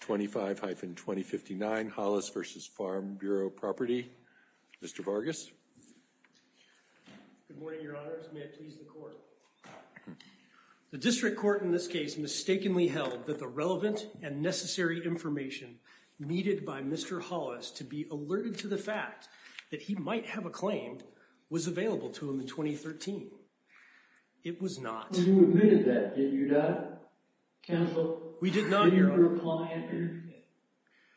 25-2059 Hollis v. Farm Bureau Property. Mr. Vargas. Good morning, your honors. May it please the court. The district court in this case mistakenly held that the relevant and necessary information needed by Mr. Hollis to be alerted to the fact that he might have a claim was available to him in 2013. It was not. But you admitted that, did you not, counsel? We did not, your honor. Did he reply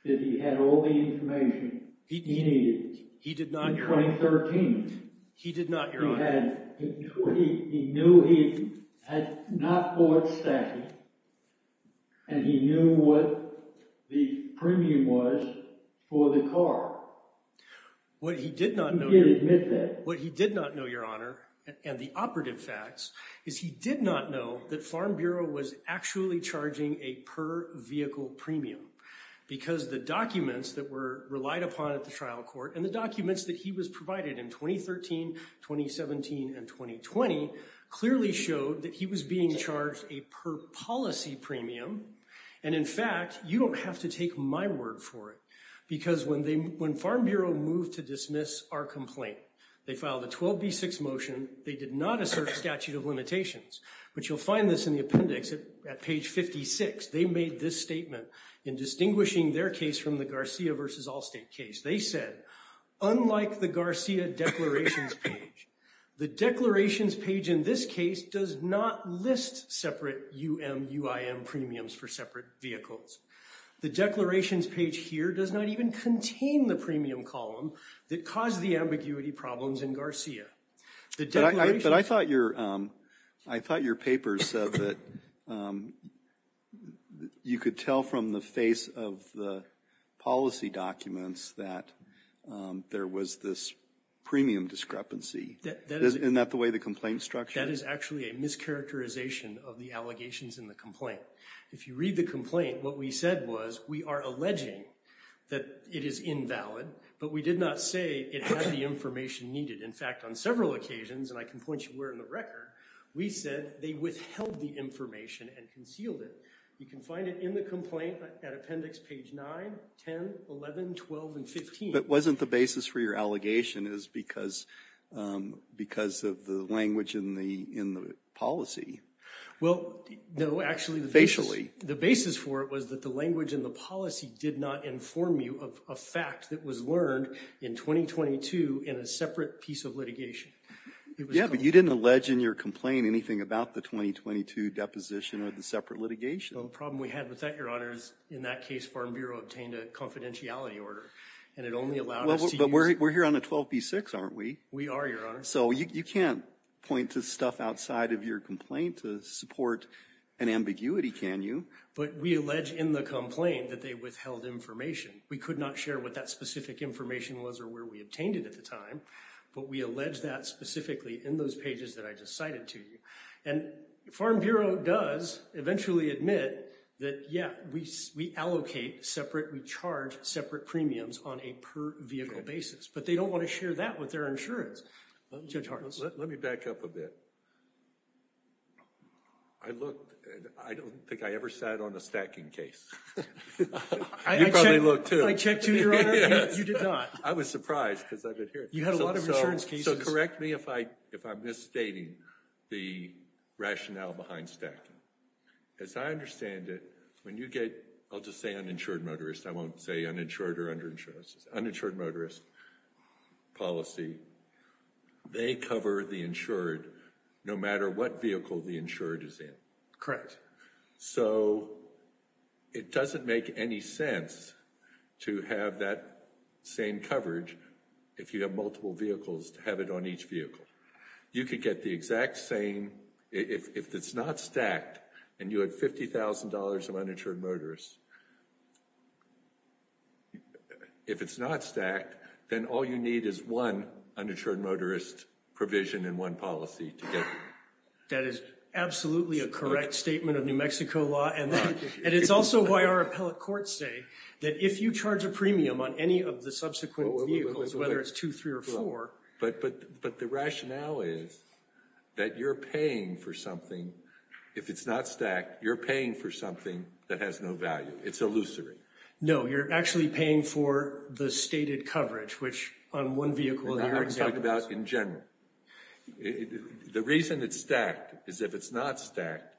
that he had all the information he needed in 2013? He did not, your honor. He knew he had not bought stacking and he knew what the premium was for the car. What he did not know, your honor, and the operative facts is he did not know that Farm Bureau was actually charging a per-vehicle premium because the documents that were relied upon at the trial court and the documents that he was provided in 2013, 2017, and 2020 clearly showed that he was being charged a per-policy premium. And in fact, you don't have to take my word for it because when Farm Bureau moved to dismiss our complaint, they filed a 12B6 motion. They did not assert statute of limitations. But you'll find this in the appendix at page 56. They made this statement in distinguishing their case from the Garcia v. Allstate case. They said, unlike the Garcia declarations page, the declarations page in this case does not separate UMUIM premiums for separate vehicles. The declarations page here does not even contain the premium column that caused the ambiguity problems in Garcia. But I thought your papers said that you could tell from the face of the policy documents that there was this premium discrepancy. Isn't that the way the complaint structure? That is actually a discharacterization of the allegations in the complaint. If you read the complaint, what we said was we are alleging that it is invalid, but we did not say it had the information needed. In fact, on several occasions, and I can point you where in the record, we said they withheld the information and concealed it. You can find it in the complaint at appendix page 9, 10, 11, 12, and 15. Wasn't the basis for your allegation because of the language in the policy? The basis for it was that the language in the policy did not inform you of a fact that was learned in 2022 in a separate piece of litigation. But you didn't allege in your complaint anything about the 2022 deposition or the separate litigation. The problem we had with that, your honor, is in that case Farm Bureau obtained a confidentiality order, and it only allowed us to use... But we're here on a 12b6, aren't we? We are, your honor. So you can't point to stuff outside of your complaint to support an ambiguity, can you? But we allege in the complaint that they withheld information. We could not share what that specific information was or where we obtained it at the time, but we allege that specifically in those pages that I just cited to you. And Farm Bureau does eventually admit that, yeah, we allocate separate, we charge separate premiums on a per-vehicle basis, but they don't want to share that with their insurance. Judge Harness? Let me back up a bit. I looked, and I don't think I ever sat on a stacking case. You probably looked too. I checked too, your honor. You did not. I was surprised because I've been here. You had a lot of insurance cases. So correct me if I'm misstating the rationale behind stacking. As I understand it, when you get, I'll just say uninsured motorist, I won't say uninsured or underinsured, uninsured motorist policy, they cover the insured no matter what vehicle the insured is in. Correct. So it doesn't make any sense to have that same coverage if you have multiple vehicles to have it on each vehicle. You could get the exact same, if it's not stacked and you had $50,000 of uninsured motorist. If it's not stacked, then all you need is one uninsured motorist provision and one policy together. That is absolutely a correct statement of New Mexico law. And it's also why our appellate courts say that if you charge a premium on any of the subsequent vehicles, whether it's two, three, or four. But the rationale is that you're paying for something. If it's not stacked, you're paying for something that has no value. It's illusory. No, you're actually paying for the stated coverage, which on one vehicle. I'm talking about in general. The reason it's stacked is if it's not stacked,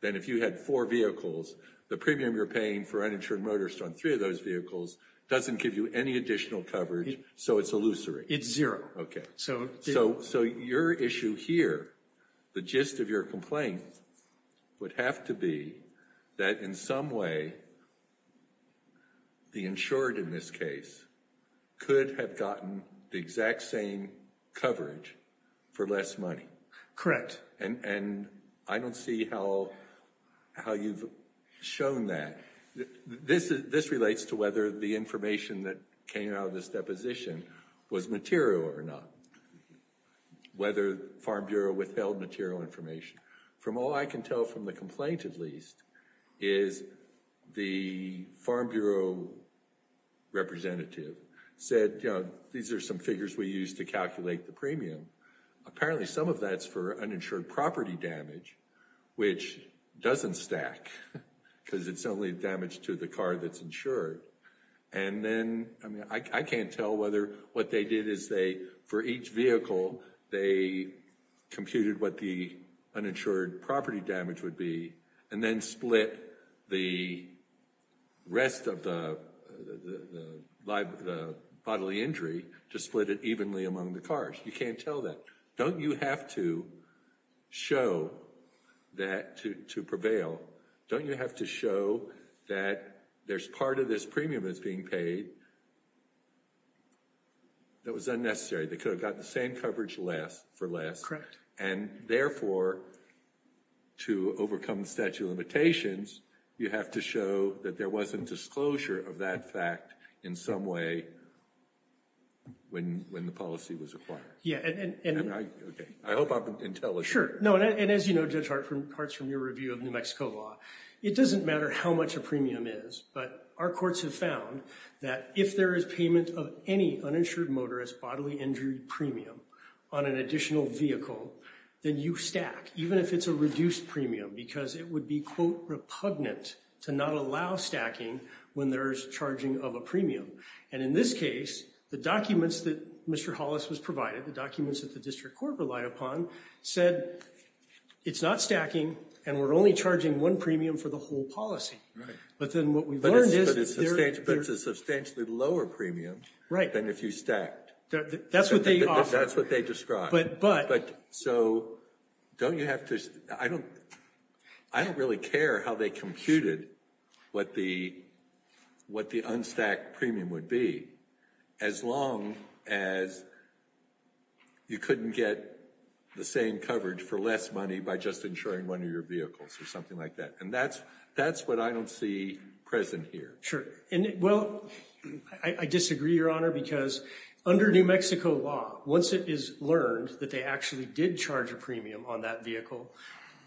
then if you had four vehicles, the premium you're paying for uninsured motorist on three of those vehicles doesn't give you any additional coverage. So it's illusory. It's zero. So your issue here, the gist of your complaint would have to be that in some way, the insured in this case could have gotten the exact same coverage for less money. Correct. And I don't see how you've shown that. This relates to whether the information that came out of this deposition was material or not, whether Farm Bureau withheld material information. From all I can tell from the complaint, at least, is the Farm Bureau representative said, you know, these are some figures we use to calculate the premium. Apparently some of that's for uninsured property damage, which doesn't stack because it's only damage to the car that's insured. And then I can't tell whether what they did is they, for each vehicle, they computed what the uninsured property damage would be and then split the rest of the bodily injury to split it evenly among the cars. You can't tell that. Don't you have to show that to prevail? Don't you have to show that there's part of this premium that's being paid that was unnecessary? They could have gotten the same coverage for less. And therefore, to overcome the statute of limitations, you have to show that there wasn't disclosure of that fact in some way when the policy was acquired. Yeah. And I hope I'm intelligent. Sure. No. And as you know, Judge Hart, parts from your review of New Mexico law, it doesn't matter how much a premium is, but our courts have found that if there is payment of any uninsured motorist bodily injury premium on an additional vehicle, then you stack, even if it's a reduced premium, because it would be, quote, repugnant to not allow stacking when there's charging of a premium. And in this case, the documents that Mr. Hollis was provided, the documents that the district court relied upon, said it's not stacking and we're only charging one premium for the whole policy. Right. But then what we learned is that there's a substantially lower premium than if you stacked. That's what they offer. That's what they describe. But so don't you have to, I don't as long as you couldn't get the same coverage for less money by just insuring one of your vehicles or something like that. And that's that's what I don't see present here. Sure. And well, I disagree, Your Honor, because under New Mexico law, once it is learned that they actually did charge a premium on that vehicle,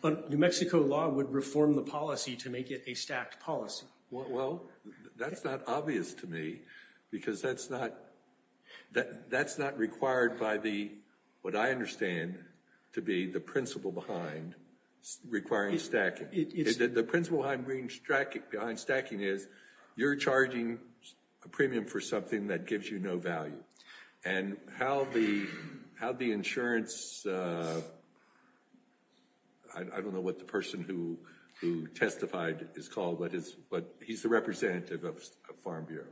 but New Mexico law would reform the policy to get a stacked policy. Well, that's not obvious to me because that's not that that's not required by the what I understand to be the principle behind requiring stacking. The principle behind stacking is you're charging a premium for something that gives you no value. And how the how the insurance. I don't know what the person who who testified is called, but he's the representative of Farm Bureau.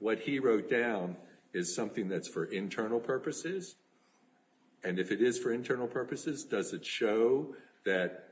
What he wrote down is something that's for internal purposes. And if it is for internal purposes, does it show that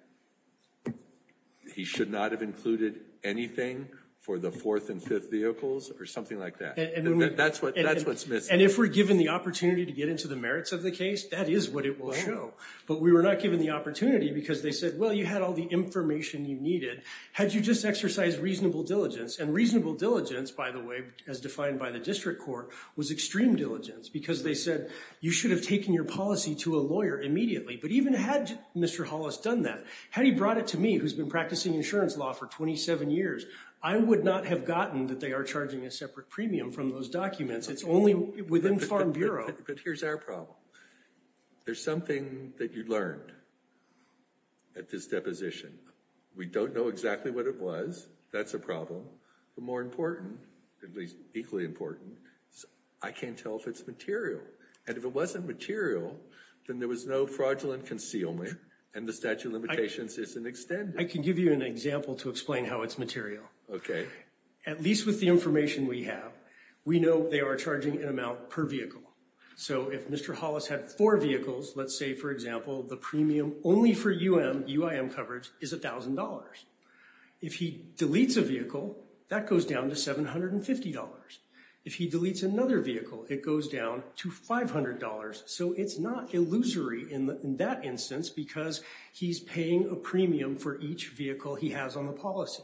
he should not have included anything for the fourth and fifth vehicles or something like that? And that's what that's what's missing. And if we're given the opportunity to get into the merits of the case, that is what it will show. But we were not given the opportunity because they said, well, you had all the information you needed had you just exercised reasonable diligence and reasonable diligence, by the way, as defined by the district court, was extreme diligence because they said you should have taken your policy to a lawyer immediately. But even had Mr. Hollis done that, had he brought it to me, who's been practicing insurance law for twenty seven years, I would not have gotten that they are charging a separate premium from those documents. It's only within Farm Bureau. But here's our problem. There's something that you learned at this deposition. We don't know exactly what it was. That's a problem. But more important, at least equally important, I can't tell if it's material. And if it wasn't material, then there was no fraudulent concealment and the statute of limitations isn't extended. I can give you an example to explain how it's material. At least with the information we have, we know they are charging an amount per vehicle. So if Mr. Hollis had four vehicles, let's say, for example, the premium only for UIM coverage is a thousand dollars. If he deletes a vehicle, that goes down to seven hundred and fifty dollars. If he deletes another vehicle, it goes down to five hundred dollars. So it's not illusory in that instance because he's paying a premium for each vehicle he has on the policy.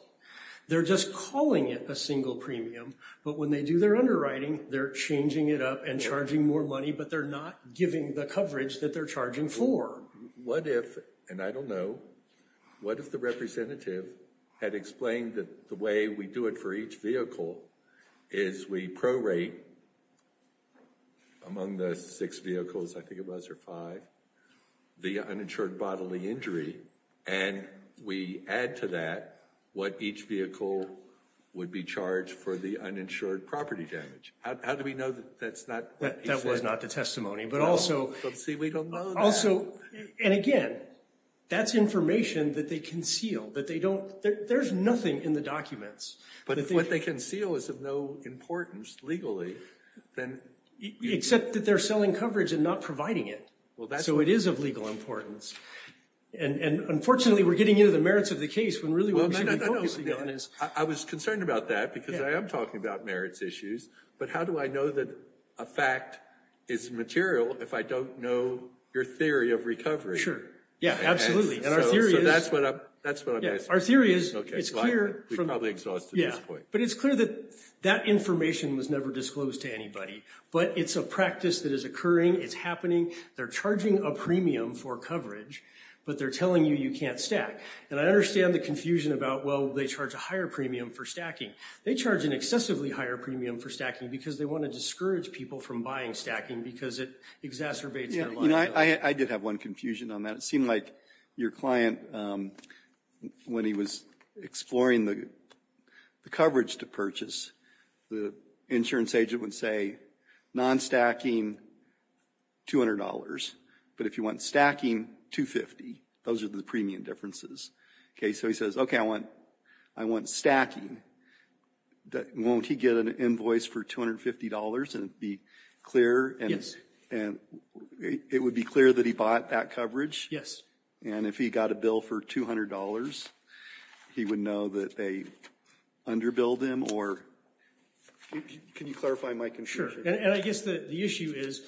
They're just calling it a single premium. But when they do their underwriting, they're changing it up and charging more money, but they're not giving the coverage that they're charging for. What if, and I don't know, what if the representative had explained that the way we do it for each vehicle is we prorate the uninsured bodily injury among the six vehicles, I think it was, or five, the uninsured bodily injury, and we add to that what each vehicle would be charged for the uninsured property damage. How do we know that that's not what he said? That was not the testimony, but also... But see, we don't know that. Also, and again, that's information that they conceal, that they don't, there's nothing in the documents. But if what they conceal is of no importance legally, then... Except that they're selling coverage and not providing it, so it is of legal importance. And unfortunately, we're getting into the merits of the case when really what we should be focusing on is... I was concerned about that because I am talking about merits issues, but how do I know that a fact is material if I don't know your theory of recovery? Sure. Yeah, absolutely. And our theory is... So that's what I'm asking. Our information was never disclosed to anybody, but it's a practice that is occurring, it's happening, they're charging a premium for coverage, but they're telling you you can't stack. And I understand the confusion about, well, they charge a higher premium for stacking. They charge an excessively higher premium for stacking because they want to discourage people from buying stacking because it exacerbates their liability. Yeah, I did have one confusion on that. It seemed like your client, when he was exploring the coverage to purchase, the insurance agent would say, non-stacking, $200. But if you want stacking, $250. Those are the premium differences. Okay, so he says, okay, I want stacking. Won't he get an invoice for $250 and be clear? Yes. And it would be clear that he bought that coverage? Yes. And if he got a bill for $200, he would know that they underbilled him? Can you clarify my confusion? Sure. And I guess the issue is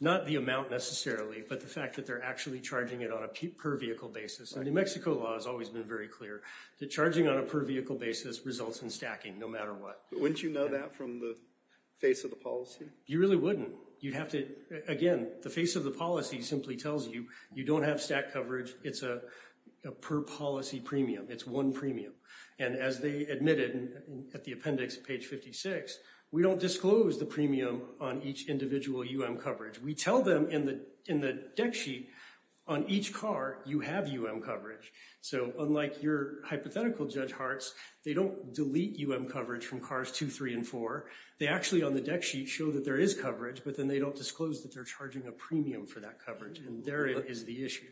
not the amount necessarily, but the fact that they're actually charging it on a per vehicle basis. And New Mexico law has always been very clear that charging on a per vehicle basis results in stacking, no matter what. Wouldn't you know that from the face of the policy? You really wouldn't. You'd have to, again, the face of the policy simply tells you, you don't have stack coverage. It's a per policy premium. It's one premium. And as they admitted at the appendix, page 56, we don't disclose the premium on each individual UM coverage. We tell them in the deck sheet, on each car, you have UM coverage. So unlike your hypothetical Judge Hartz, they don't delete UM from cars two, three, and four. They actually on the deck sheet show that there is coverage, but then they don't disclose that they're charging a premium for that coverage. And there is the issue.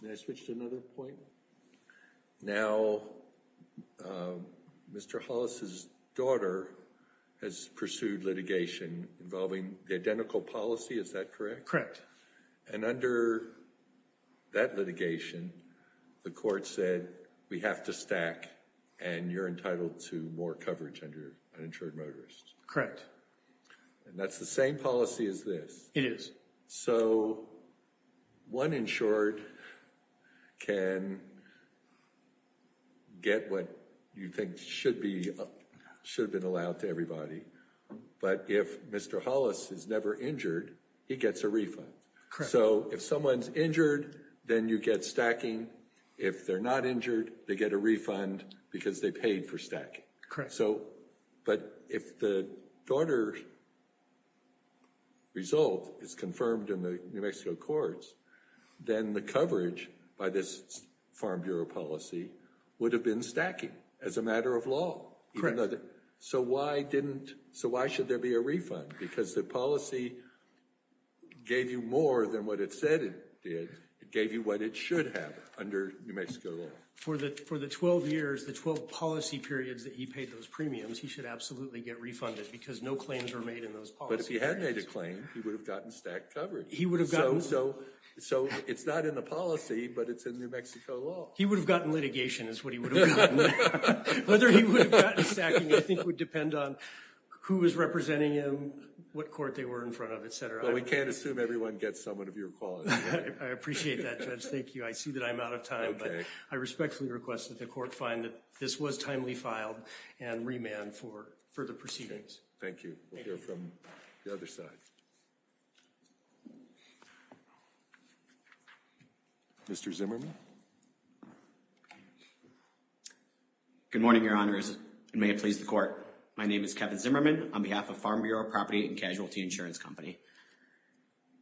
Can I switch to another point? Now, Mr. Hollis's daughter has pursued litigation involving the identical policy. Is that correct? Correct. And under that litigation, the court said we have to stack and you're entitled to more coverage under an insured motorist. Correct. And that's the same policy as this. It is. So one insured can get what you think should be, should have been allowed to everybody. But if Mr. Hollis is never injured, he gets a refund. Correct. So if someone's injured, then you get stacking. If they're not injured, they get a refund because they paid for stacking. Correct. So, but if the daughter's result is confirmed in the New Mexico courts, then the coverage by this Farm Bureau policy would have been stacking as a matter of law. Correct. So why didn't, so why should there be a refund? Because the policy gave you more than what it said it did. It gave you what it should have under New Mexico law. For the, for the 12 years, the 12 policy periods that he paid those premiums, he should absolutely get refunded because no claims were made in those policies. But if he hadn't made a claim, he would have gotten stacked coverage. He would have gotten. So, so it's not in the policy, but it's in New Mexico law. He would have gotten litigation is what he would have gotten. Whether he would have gotten stacking, I think would depend on who was representing him, what court they were in front of, etc. Well, we can't assume everyone gets some of your qualities. I appreciate that, Judge. Thank you. I see that I'm out of time, but I respectfully request that the court find that this was timely filed and remand for further proceedings. Thank you. We'll hear from the other side. Mr. Zimmerman. Good morning, Your Honors. May it please the court. My name is Kevin Zimmerman on behalf of Farm Bureau Property and Casualty Insurance Company.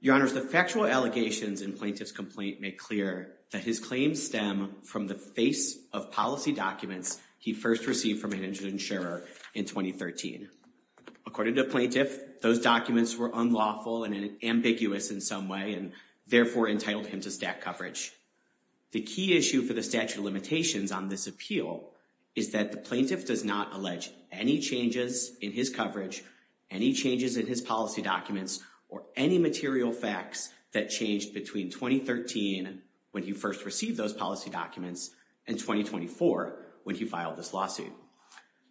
Your Honors, the factual allegations in Plaintiff's complaint make clear that his claims stem from the face of policy documents he first received from an insured insurer in 2013. According to Plaintiff, those documents were unlawful and ambiguous in some way and therefore entitled him to stack coverage. The key issue for the statute of limitations on this appeal is that the plaintiff does not allege any changes in his coverage, any changes in his policy documents, or any material facts that changed between 2013 when he first received those policy documents and 2024 when he filed this lawsuit.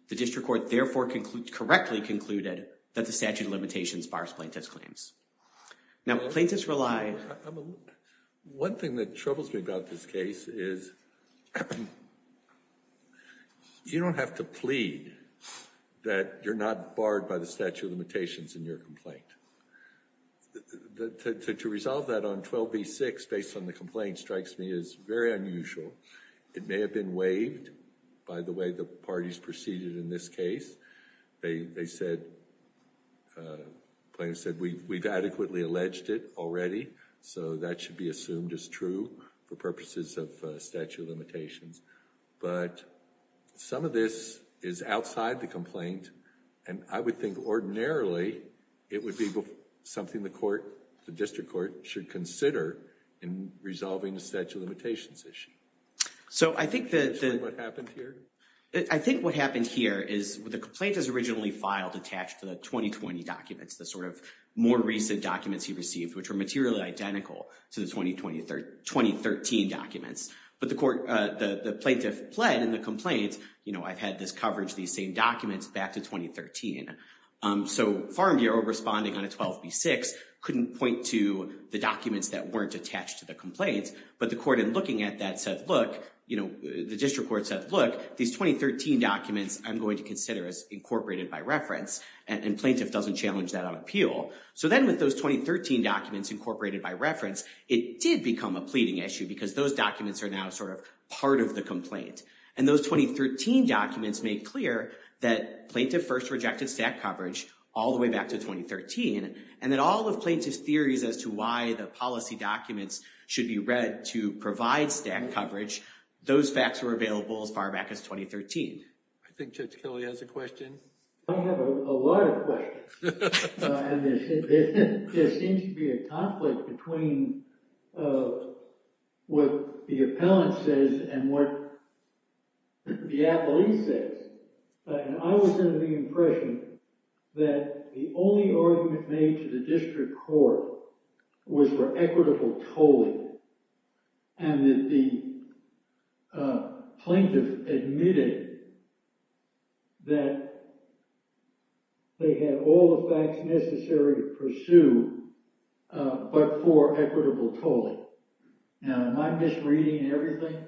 The district court therefore correctly concluded that the statute of limitations on this case is unlawful and unambiguous in some way and therefore entitled him to stack One thing that troubles me about this case is you don't have to plead that you're not barred by the statute of limitations in your complaint. To resolve that on 12b-6 based on the complaint strikes me as very unusual. It may have been waived by the way the parties proceeded in this case. They said, Plaintiff said, we've adequately alleged it already so that should be assumed as true for purposes of statute of limitations. But some of this is outside the complaint and I would think ordinarily it would be something the court, the district court, should consider in resolving the statute of limitations issue. So I think that what happened I think what happened here is the complaint is originally filed attached to the 2020 documents, the sort of more recent documents he received, which were materially identical to the 2013 documents. But the court, the plaintiff pled in the complaint, you know, I've had this coverage, these same documents back to 2013. So Farm Bureau responding on a 12b-6 couldn't point to the documents that weren't attached to the complaints, but the court in looking at that said, look, you know, the district court said, look, these 2013 documents I'm going to consider as incorporated by reference and Plaintiff doesn't challenge that on appeal. So then with those 2013 documents incorporated by reference, it did become a pleading issue because those documents are now sort of part of the complaint. And those 2013 documents made clear that Plaintiff first rejected stack coverage all the way back to 2013 and that all of Plaintiff's theories as to why the policy documents should be read to provide stack coverage, those facts were available as far back as 2013. I think Judge Kelly has a question. I have a lot of questions and there seems to be a conflict between what the appellant says and what the appellee says. And I was under the impression that the only argument made to the district court was for equitable tolling and that the Plaintiff admitted that they had all the facts necessary to pursue but for equitable tolling. Now, am I misreading everything?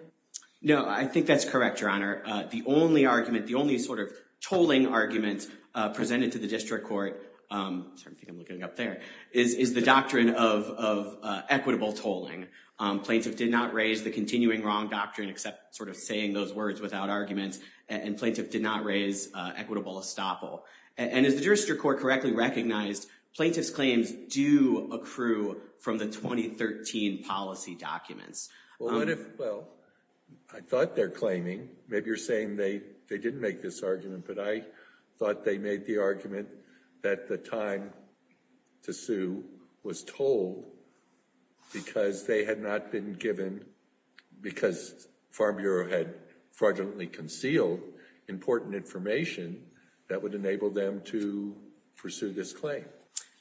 No, I think that's correct, Your Honor. The only argument, the only sort of tolling argument presented to the district court, sorry, I think I'm looking up there, is the doctrine of equitable tolling. Plaintiff did not raise the continuing wrong doctrine except sort of saying those words without argument and Plaintiff did not raise equitable estoppel. And as the jurisdict court correctly recognized, Plaintiff's claims do accrue from the 2013 policy documents. Well, what if, well, I thought they're claiming, maybe you're they didn't make this argument, but I thought they made the argument that the time to sue was told because they had not been given, because Farm Bureau had fraudulently concealed important information that would enable them to pursue this claim.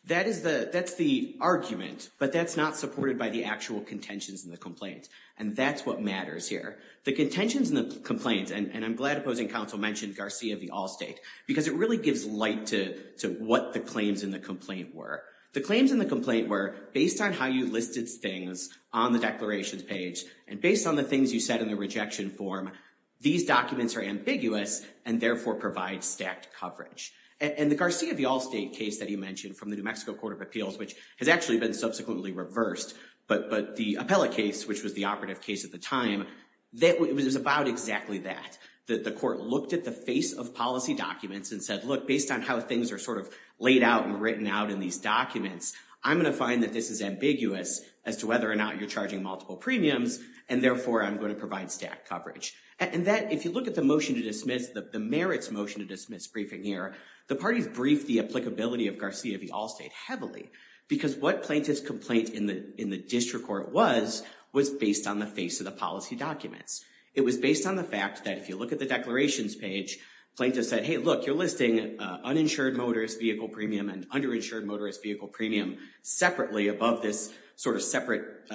That is the, that's the argument, but that's not supported by the actual contentions in the complaint. And that's what matters here. The contentions in the complaint, and I'm glad opposing counsel mentioned Garcia v. Allstate because it really gives light to what the claims in the complaint were. The claims in the complaint were based on how you listed things on the declarations page and based on the things you said in the rejection form, these documents are ambiguous and therefore provide stacked coverage. And the Garcia v. Allstate case that you mentioned from the New Mexico Court of Appeals, which has actually been subsequently reversed, but the appellate case, which was the operative case at the time, that was about exactly that. That the court looked at the face of policy documents and said, look, based on how things are sort of laid out and written out in these documents, I'm going to find that this is ambiguous as to whether or not you're charging multiple premiums and therefore I'm going to provide stacked coverage. And that, if you look at the motion to dismiss, the merits motion to dismiss briefing here, the parties briefed the applicability of Garcia v. Allstate heavily because what plaintiff's complaint in the, in the district court was, was based on the face of the policy documents. It was based on the fact that if you look at the declarations page, plaintiff said, hey look, you're listing uninsured motorist vehicle premium and underinsured motorist vehicle premium separately above this sort of separate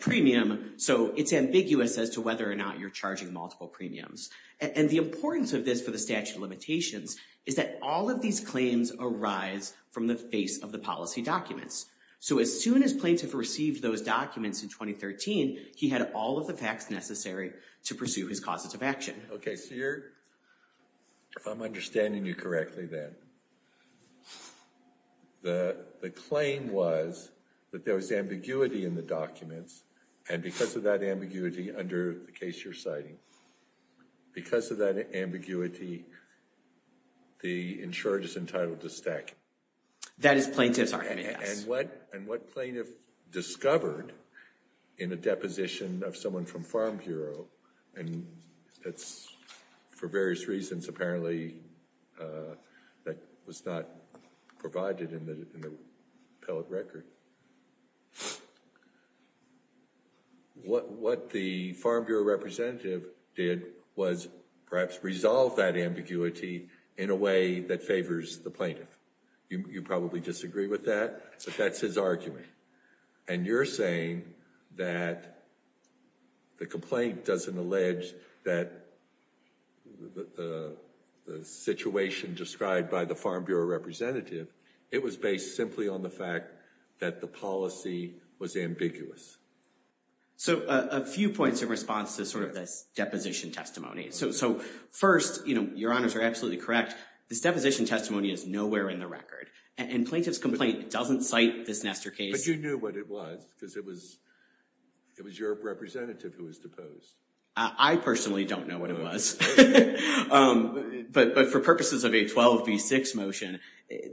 premium, so it's ambiguous as to whether or not you're charging multiple premiums. And the importance of this for the statute of limitations is that all of these claims arise from the face of the policy documents. So as soon as plaintiff received those documents in 2013, he had all of the facts necessary to pursue his causes of action. Okay, so you're, if I'm understanding you correctly then, the, the claim was that there was ambiguity in the documents and because of that ambiguity under the case you're citing, because of that ambiguity, the insurer is entitled to stack. That is plaintiff's argument. And what, and what plaintiff discovered in a deposition of someone from Farm Bureau, and it's for various reasons apparently that was not provided in the appellate record, what, what the Farm Bureau representative did was perhaps resolve that ambiguity in a way that favors the plaintiff. You probably disagree with that, but that's his argument. And you're saying that the complaint doesn't allege that the situation described by the Farm Bureau representative, it was based simply on the fact that the policy was ambiguous. So a few points in response to sort of this deposition testimony. So, so first, you know, this deposition testimony is nowhere in the record. And plaintiff's complaint doesn't cite this Nestor case. But you knew what it was, because it was, it was your representative who was deposed. I personally don't know what it was. But for purposes of a 12 v 6 motion,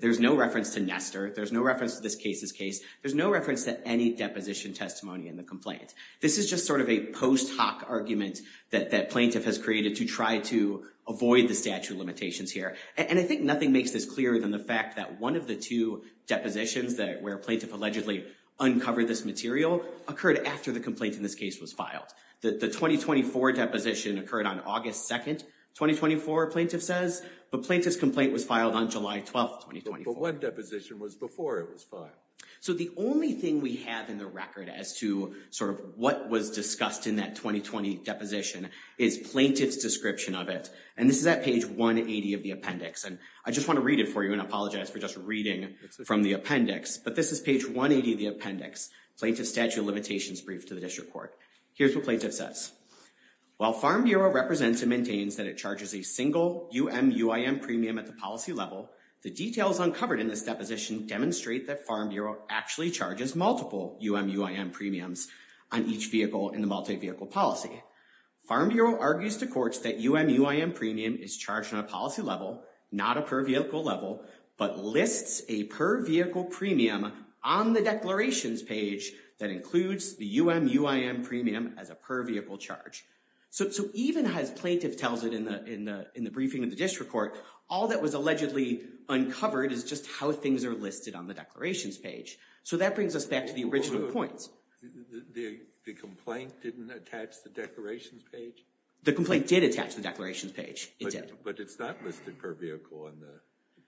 there's no reference to Nestor. There's no reference to this case's case. There's no reference to any deposition testimony in the complaint. This is just sort of a post hoc argument that that plaintiff has created to try to avoid the statute limitations here. And I think nothing makes this clearer than the fact that one of the two depositions that where plaintiff allegedly uncovered this material occurred after the complaint in this case was filed. The 2024 deposition occurred on August 2nd, 2024 plaintiff says, but plaintiff's complaint was filed on July 12th, 2024. But one deposition was before it was filed. So the only thing we have in the record as to sort of what was discussed in that 2020 deposition is plaintiff's description of it. And this is at page 180 of the appendix. And I just want to read it for you and apologize for just reading from the appendix. But this is page 180 of the appendix, plaintiff's statute limitations brief to the district court. Here's what plaintiff says. While Farm Bureau represents and maintains that it charges a single UMUIM premium at the policy level, the details uncovered in this deposition demonstrate that Farm Bureau actually charges multiple UMUIM premiums on each vehicle in the multi-vehicle policy. Farm Bureau argues to courts that UMUIM premium is charged on a policy level, not a per vehicle level, but lists a per vehicle premium on the declarations page that includes the UMUIM premium as a per vehicle charge. So even as plaintiff tells it in the briefing of the district court, all that was allegedly uncovered is just how things are listed on the declarations page. So that brings us back to the original points. The complaint didn't attach the declarations page? The complaint did attach the declarations page, it did. But it's not listed per vehicle on the...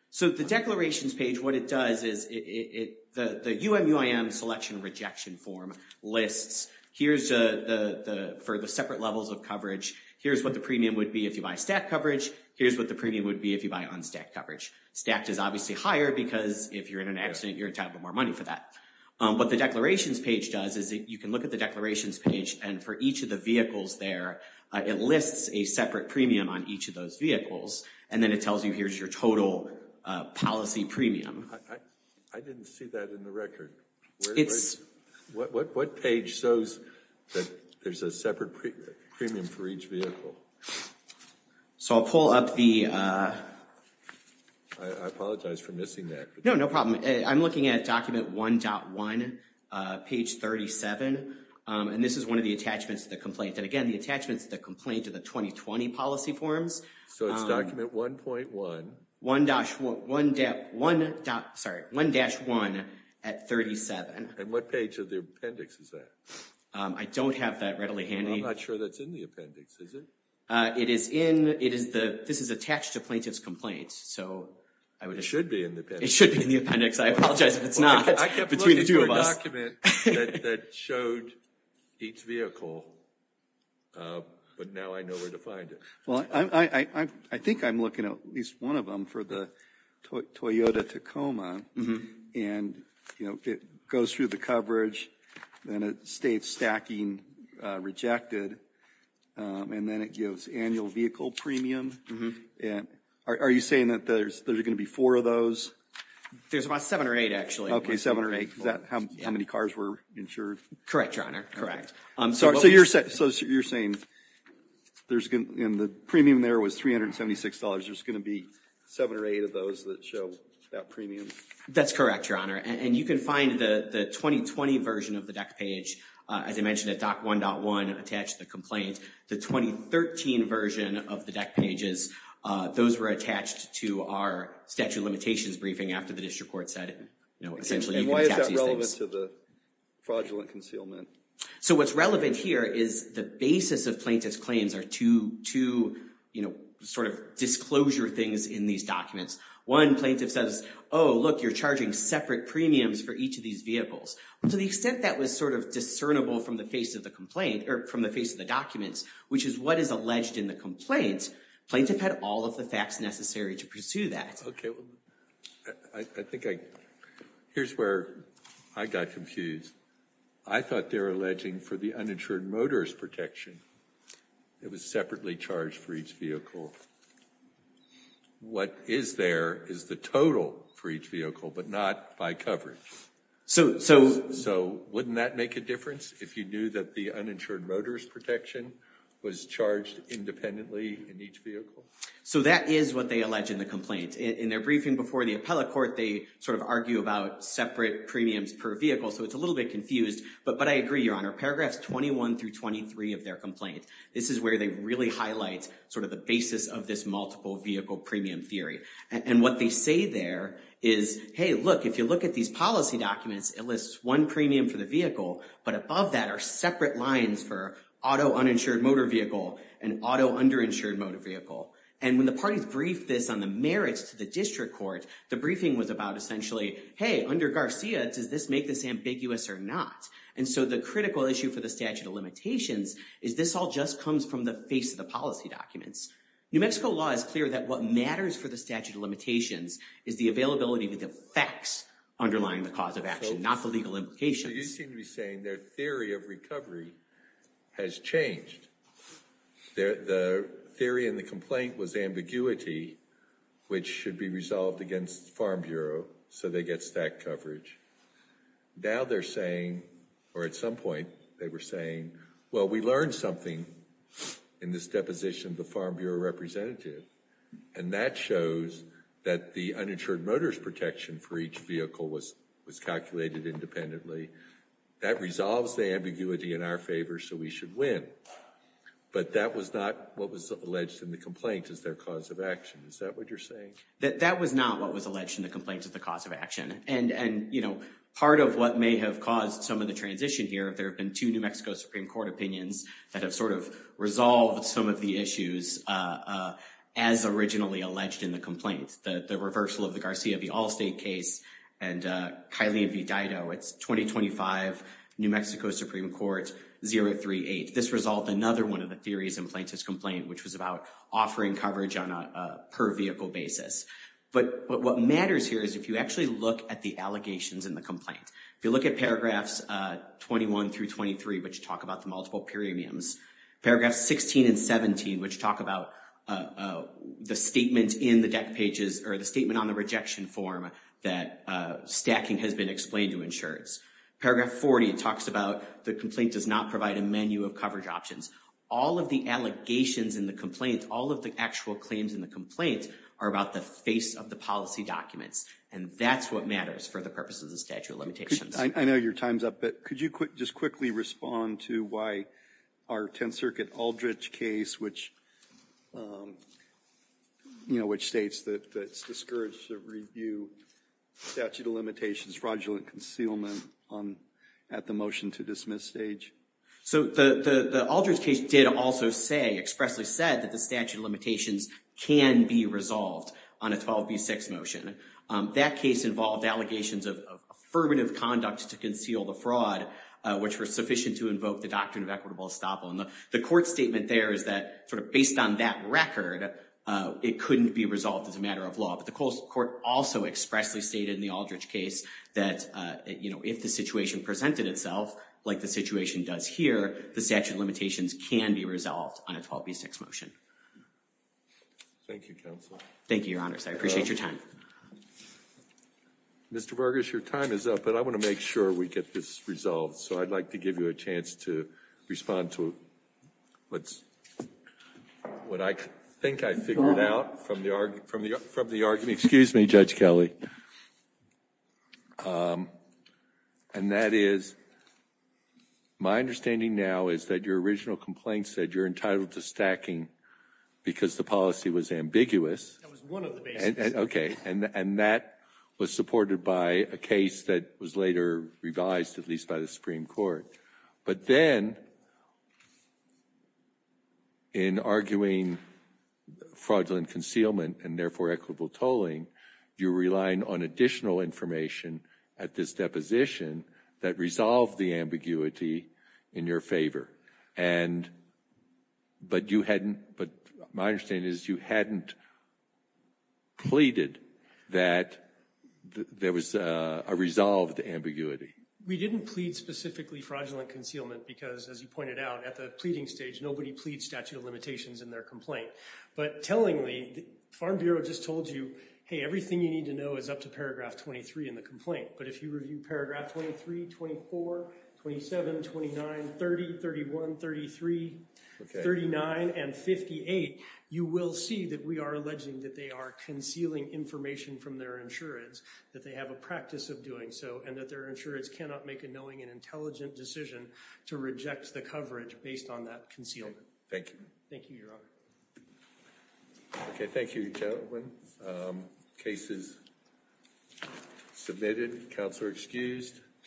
So the declarations page, what it does is it, the UMUIM selection rejection form lists here's the, for the separate levels of coverage. Here's what the premium would be if you buy stacked coverage, here's what the premium would be if you buy unstacked coverage. Stacked is obviously higher because if you're in an accident you're entitled to more money for that. What the declarations page does is you can look at the declarations page and for each of the vehicles there, it lists a separate premium on each of those vehicles and then it tells you here's your total policy premium. I didn't see that in the record. What page shows that there's a separate premium for each vehicle? So I'll pull up the... I apologize for missing that. No, no problem. I'm looking at document 1.1 page 37 and this is one of the attachments to the complaint and again the attachments the complaint to the 2020 policy forms. So it's document 1.1. 1-1, sorry, 1-1 at 37. And what page of the appendix is that? I don't have that readily handy. I'm not sure that's in the appendix, is it? It is in... it is the... this is attached to plaintiff's complaint. So I would... It should be in the appendix. It should be in the appendix. I apologize if it's not. I kept looking for a document that showed each vehicle but now I know where to find it. Well, I think I'm looking at least one of them for the Toyota Tacoma and, you know, it goes through the coverage and it states stacking rejected and then it gives annual vehicle premium. And are you saying that there's going to be four of those? There's about seven or eight, actually. Okay, seven or eight. Is that how many cars were insured? Correct, your honor. Correct. So you're saying there's going... and the premium there was $376. There's going to be seven or eight of those that show that premium? That's correct, your honor. And you can find the 2020 version of the deck page, as I mentioned, at doc1.1 attached to the complaint. The 2013 version of the deck pages, those were attached to our statute of limitations briefing after the district court said, you know, essentially you can attach these things. And why is that relevant to the fraudulent concealment? So what's relevant here is the basis of plaintiff's claims are two, you know, sort of disclosure things in these documents. One plaintiff says, oh look, you're charging separate premiums for each of these vehicles. To the extent that was sort of discernible from the face of the complaint, or from the face of the documents, which is what is alleged in the complaint, plaintiff had all of the facts necessary to pursue that. Okay, well I think I... here's where I got confused. I thought they were alleging for the uninsured motorist protection. It was separately charged for each vehicle. What is there is the total for each vehicle, but not by coverage. So wouldn't that make a difference if you knew that the uninsured motorist protection was charged independently in each vehicle? So that is what they allege in the complaint. In their briefing before the appellate court, they sort of argue about separate premiums per vehicle, so it's a little bit confused. But I agree, your honor. Paragraphs 21 through 23 of their complaint, this is where they really highlight sort of the basis of this multiple vehicle premium theory. And what they say there is, hey look, if you look at these policy documents, it lists one premium for the vehicle, but above that are separate lines for auto uninsured motor vehicle and auto underinsured motor vehicle. And when the parties briefed this on the merits to the district court, the briefing was about essentially, hey, under Garcia, does this make this ambiguous or not? And so the critical issue for the statute of limitations is this all just comes from the face of the policy documents. New Mexico law is clear that what matters for the statute of limitations is the availability of the facts underlying the cause of action, not the legal implications. So you seem to be saying their theory of recovery has changed. The theory in the complaint was ambiguity, which should be resolved against Farm Bureau so they get stack coverage. Now they're saying, or at some point they were saying, well, we learned something in this deposition of the Farm Bureau representative. And that shows that the uninsured motor's protection for each vehicle was calculated independently. That resolves the ambiguity in our favor, so we should win. But that was not what was alleged in the complaint as their cause of action. Is that what you're saying? That was not what was alleged in the complaint as the cause of action. And you know, part of what may have caused some of the transition here, there have been two New Mexico Supreme Court opinions that have sort of resolved some of the issues as originally alleged in the complaint. The reversal of the Garcia v. Allstate case and Kylie v. Dido. It's 2025, New Mexico Supreme Court, 038. This resolved another one of the theories in Plaintiff's complaint, which was about offering coverage on a per-vehicle basis. But what matters here is if you actually look at the allegations in the complaint. If you look at paragraphs 21 through 23, which talk about the multiple premiums. Paragraphs 16 and 17, which talk about the statement in the deck pages or the statement on the rejection form that stacking has been explained to insureds. Paragraph 40 talks about the complaint does not provide a menu of coverage options. All of the allegations in the complaint, all of the actual claims in the complaint, are about the face of the policy documents. And that's what matters for the purpose of the statute of limitations. I know your time's up, but could you just quickly respond to why our Tenth Circuit Aldrich case, which you know, which states that it's discouraged to review statute of limitations fraudulent concealment on at the motion to dismiss stage. So the Aldrich case did also say, expressly said, that the statute of limitations can be resolved on a 12b6 motion. That case involved allegations of affirmative conduct to conceal the fraud, which were sufficient to invoke the doctrine of equitable estoppel. And the court statement there is that, sort of based on that record, it couldn't be resolved as a matter of law. But the court also expressly stated in the Aldrich case that, you know, if the situation presented itself like the situation does here, the statute of limitations can be resolved on a 12b6 motion. Thank you, counsel. Thank you, your honor. I appreciate your time. Mr. Burgess, your time is up, but I want to make sure we get this resolved. So I'd like to give you a chance to respond to what I think I figured out from the argument. Excuse me, Judge Kelly. And that is, my understanding now is that your original complaint said you're entitled to stacking because the policy was ambiguous. Okay, and that was supported by a case that was later revised, at least by the Supreme Court. But then, in arguing fraudulent concealment and therefore equitable tolling, you're relying on additional information at this deposition that resolved the ambiguity in your favor. But my understanding is you hadn't pleaded that there was a resolved ambiguity. We didn't plead specifically fraudulent concealment because, as you pointed out, at the pleading stage, nobody pleads statute of limitations in their complaint. But tellingly, the Farm Bureau just told you, hey, everything you need to know is up to paragraph 23 in the complaint. But if you review paragraph 23, 24, 27, 29, 30, 31, 33, 39, and 58, you will see that we are alleging that they are concealing information from their insurance, that they have a practice of doing so, and that their insurance cannot make a knowing and intelligent decision to reject the coverage based on that concealment. Thank you. Thank you, Your Honor. Okay, thank you, gentlemen. Cases submitted. Counselor excused.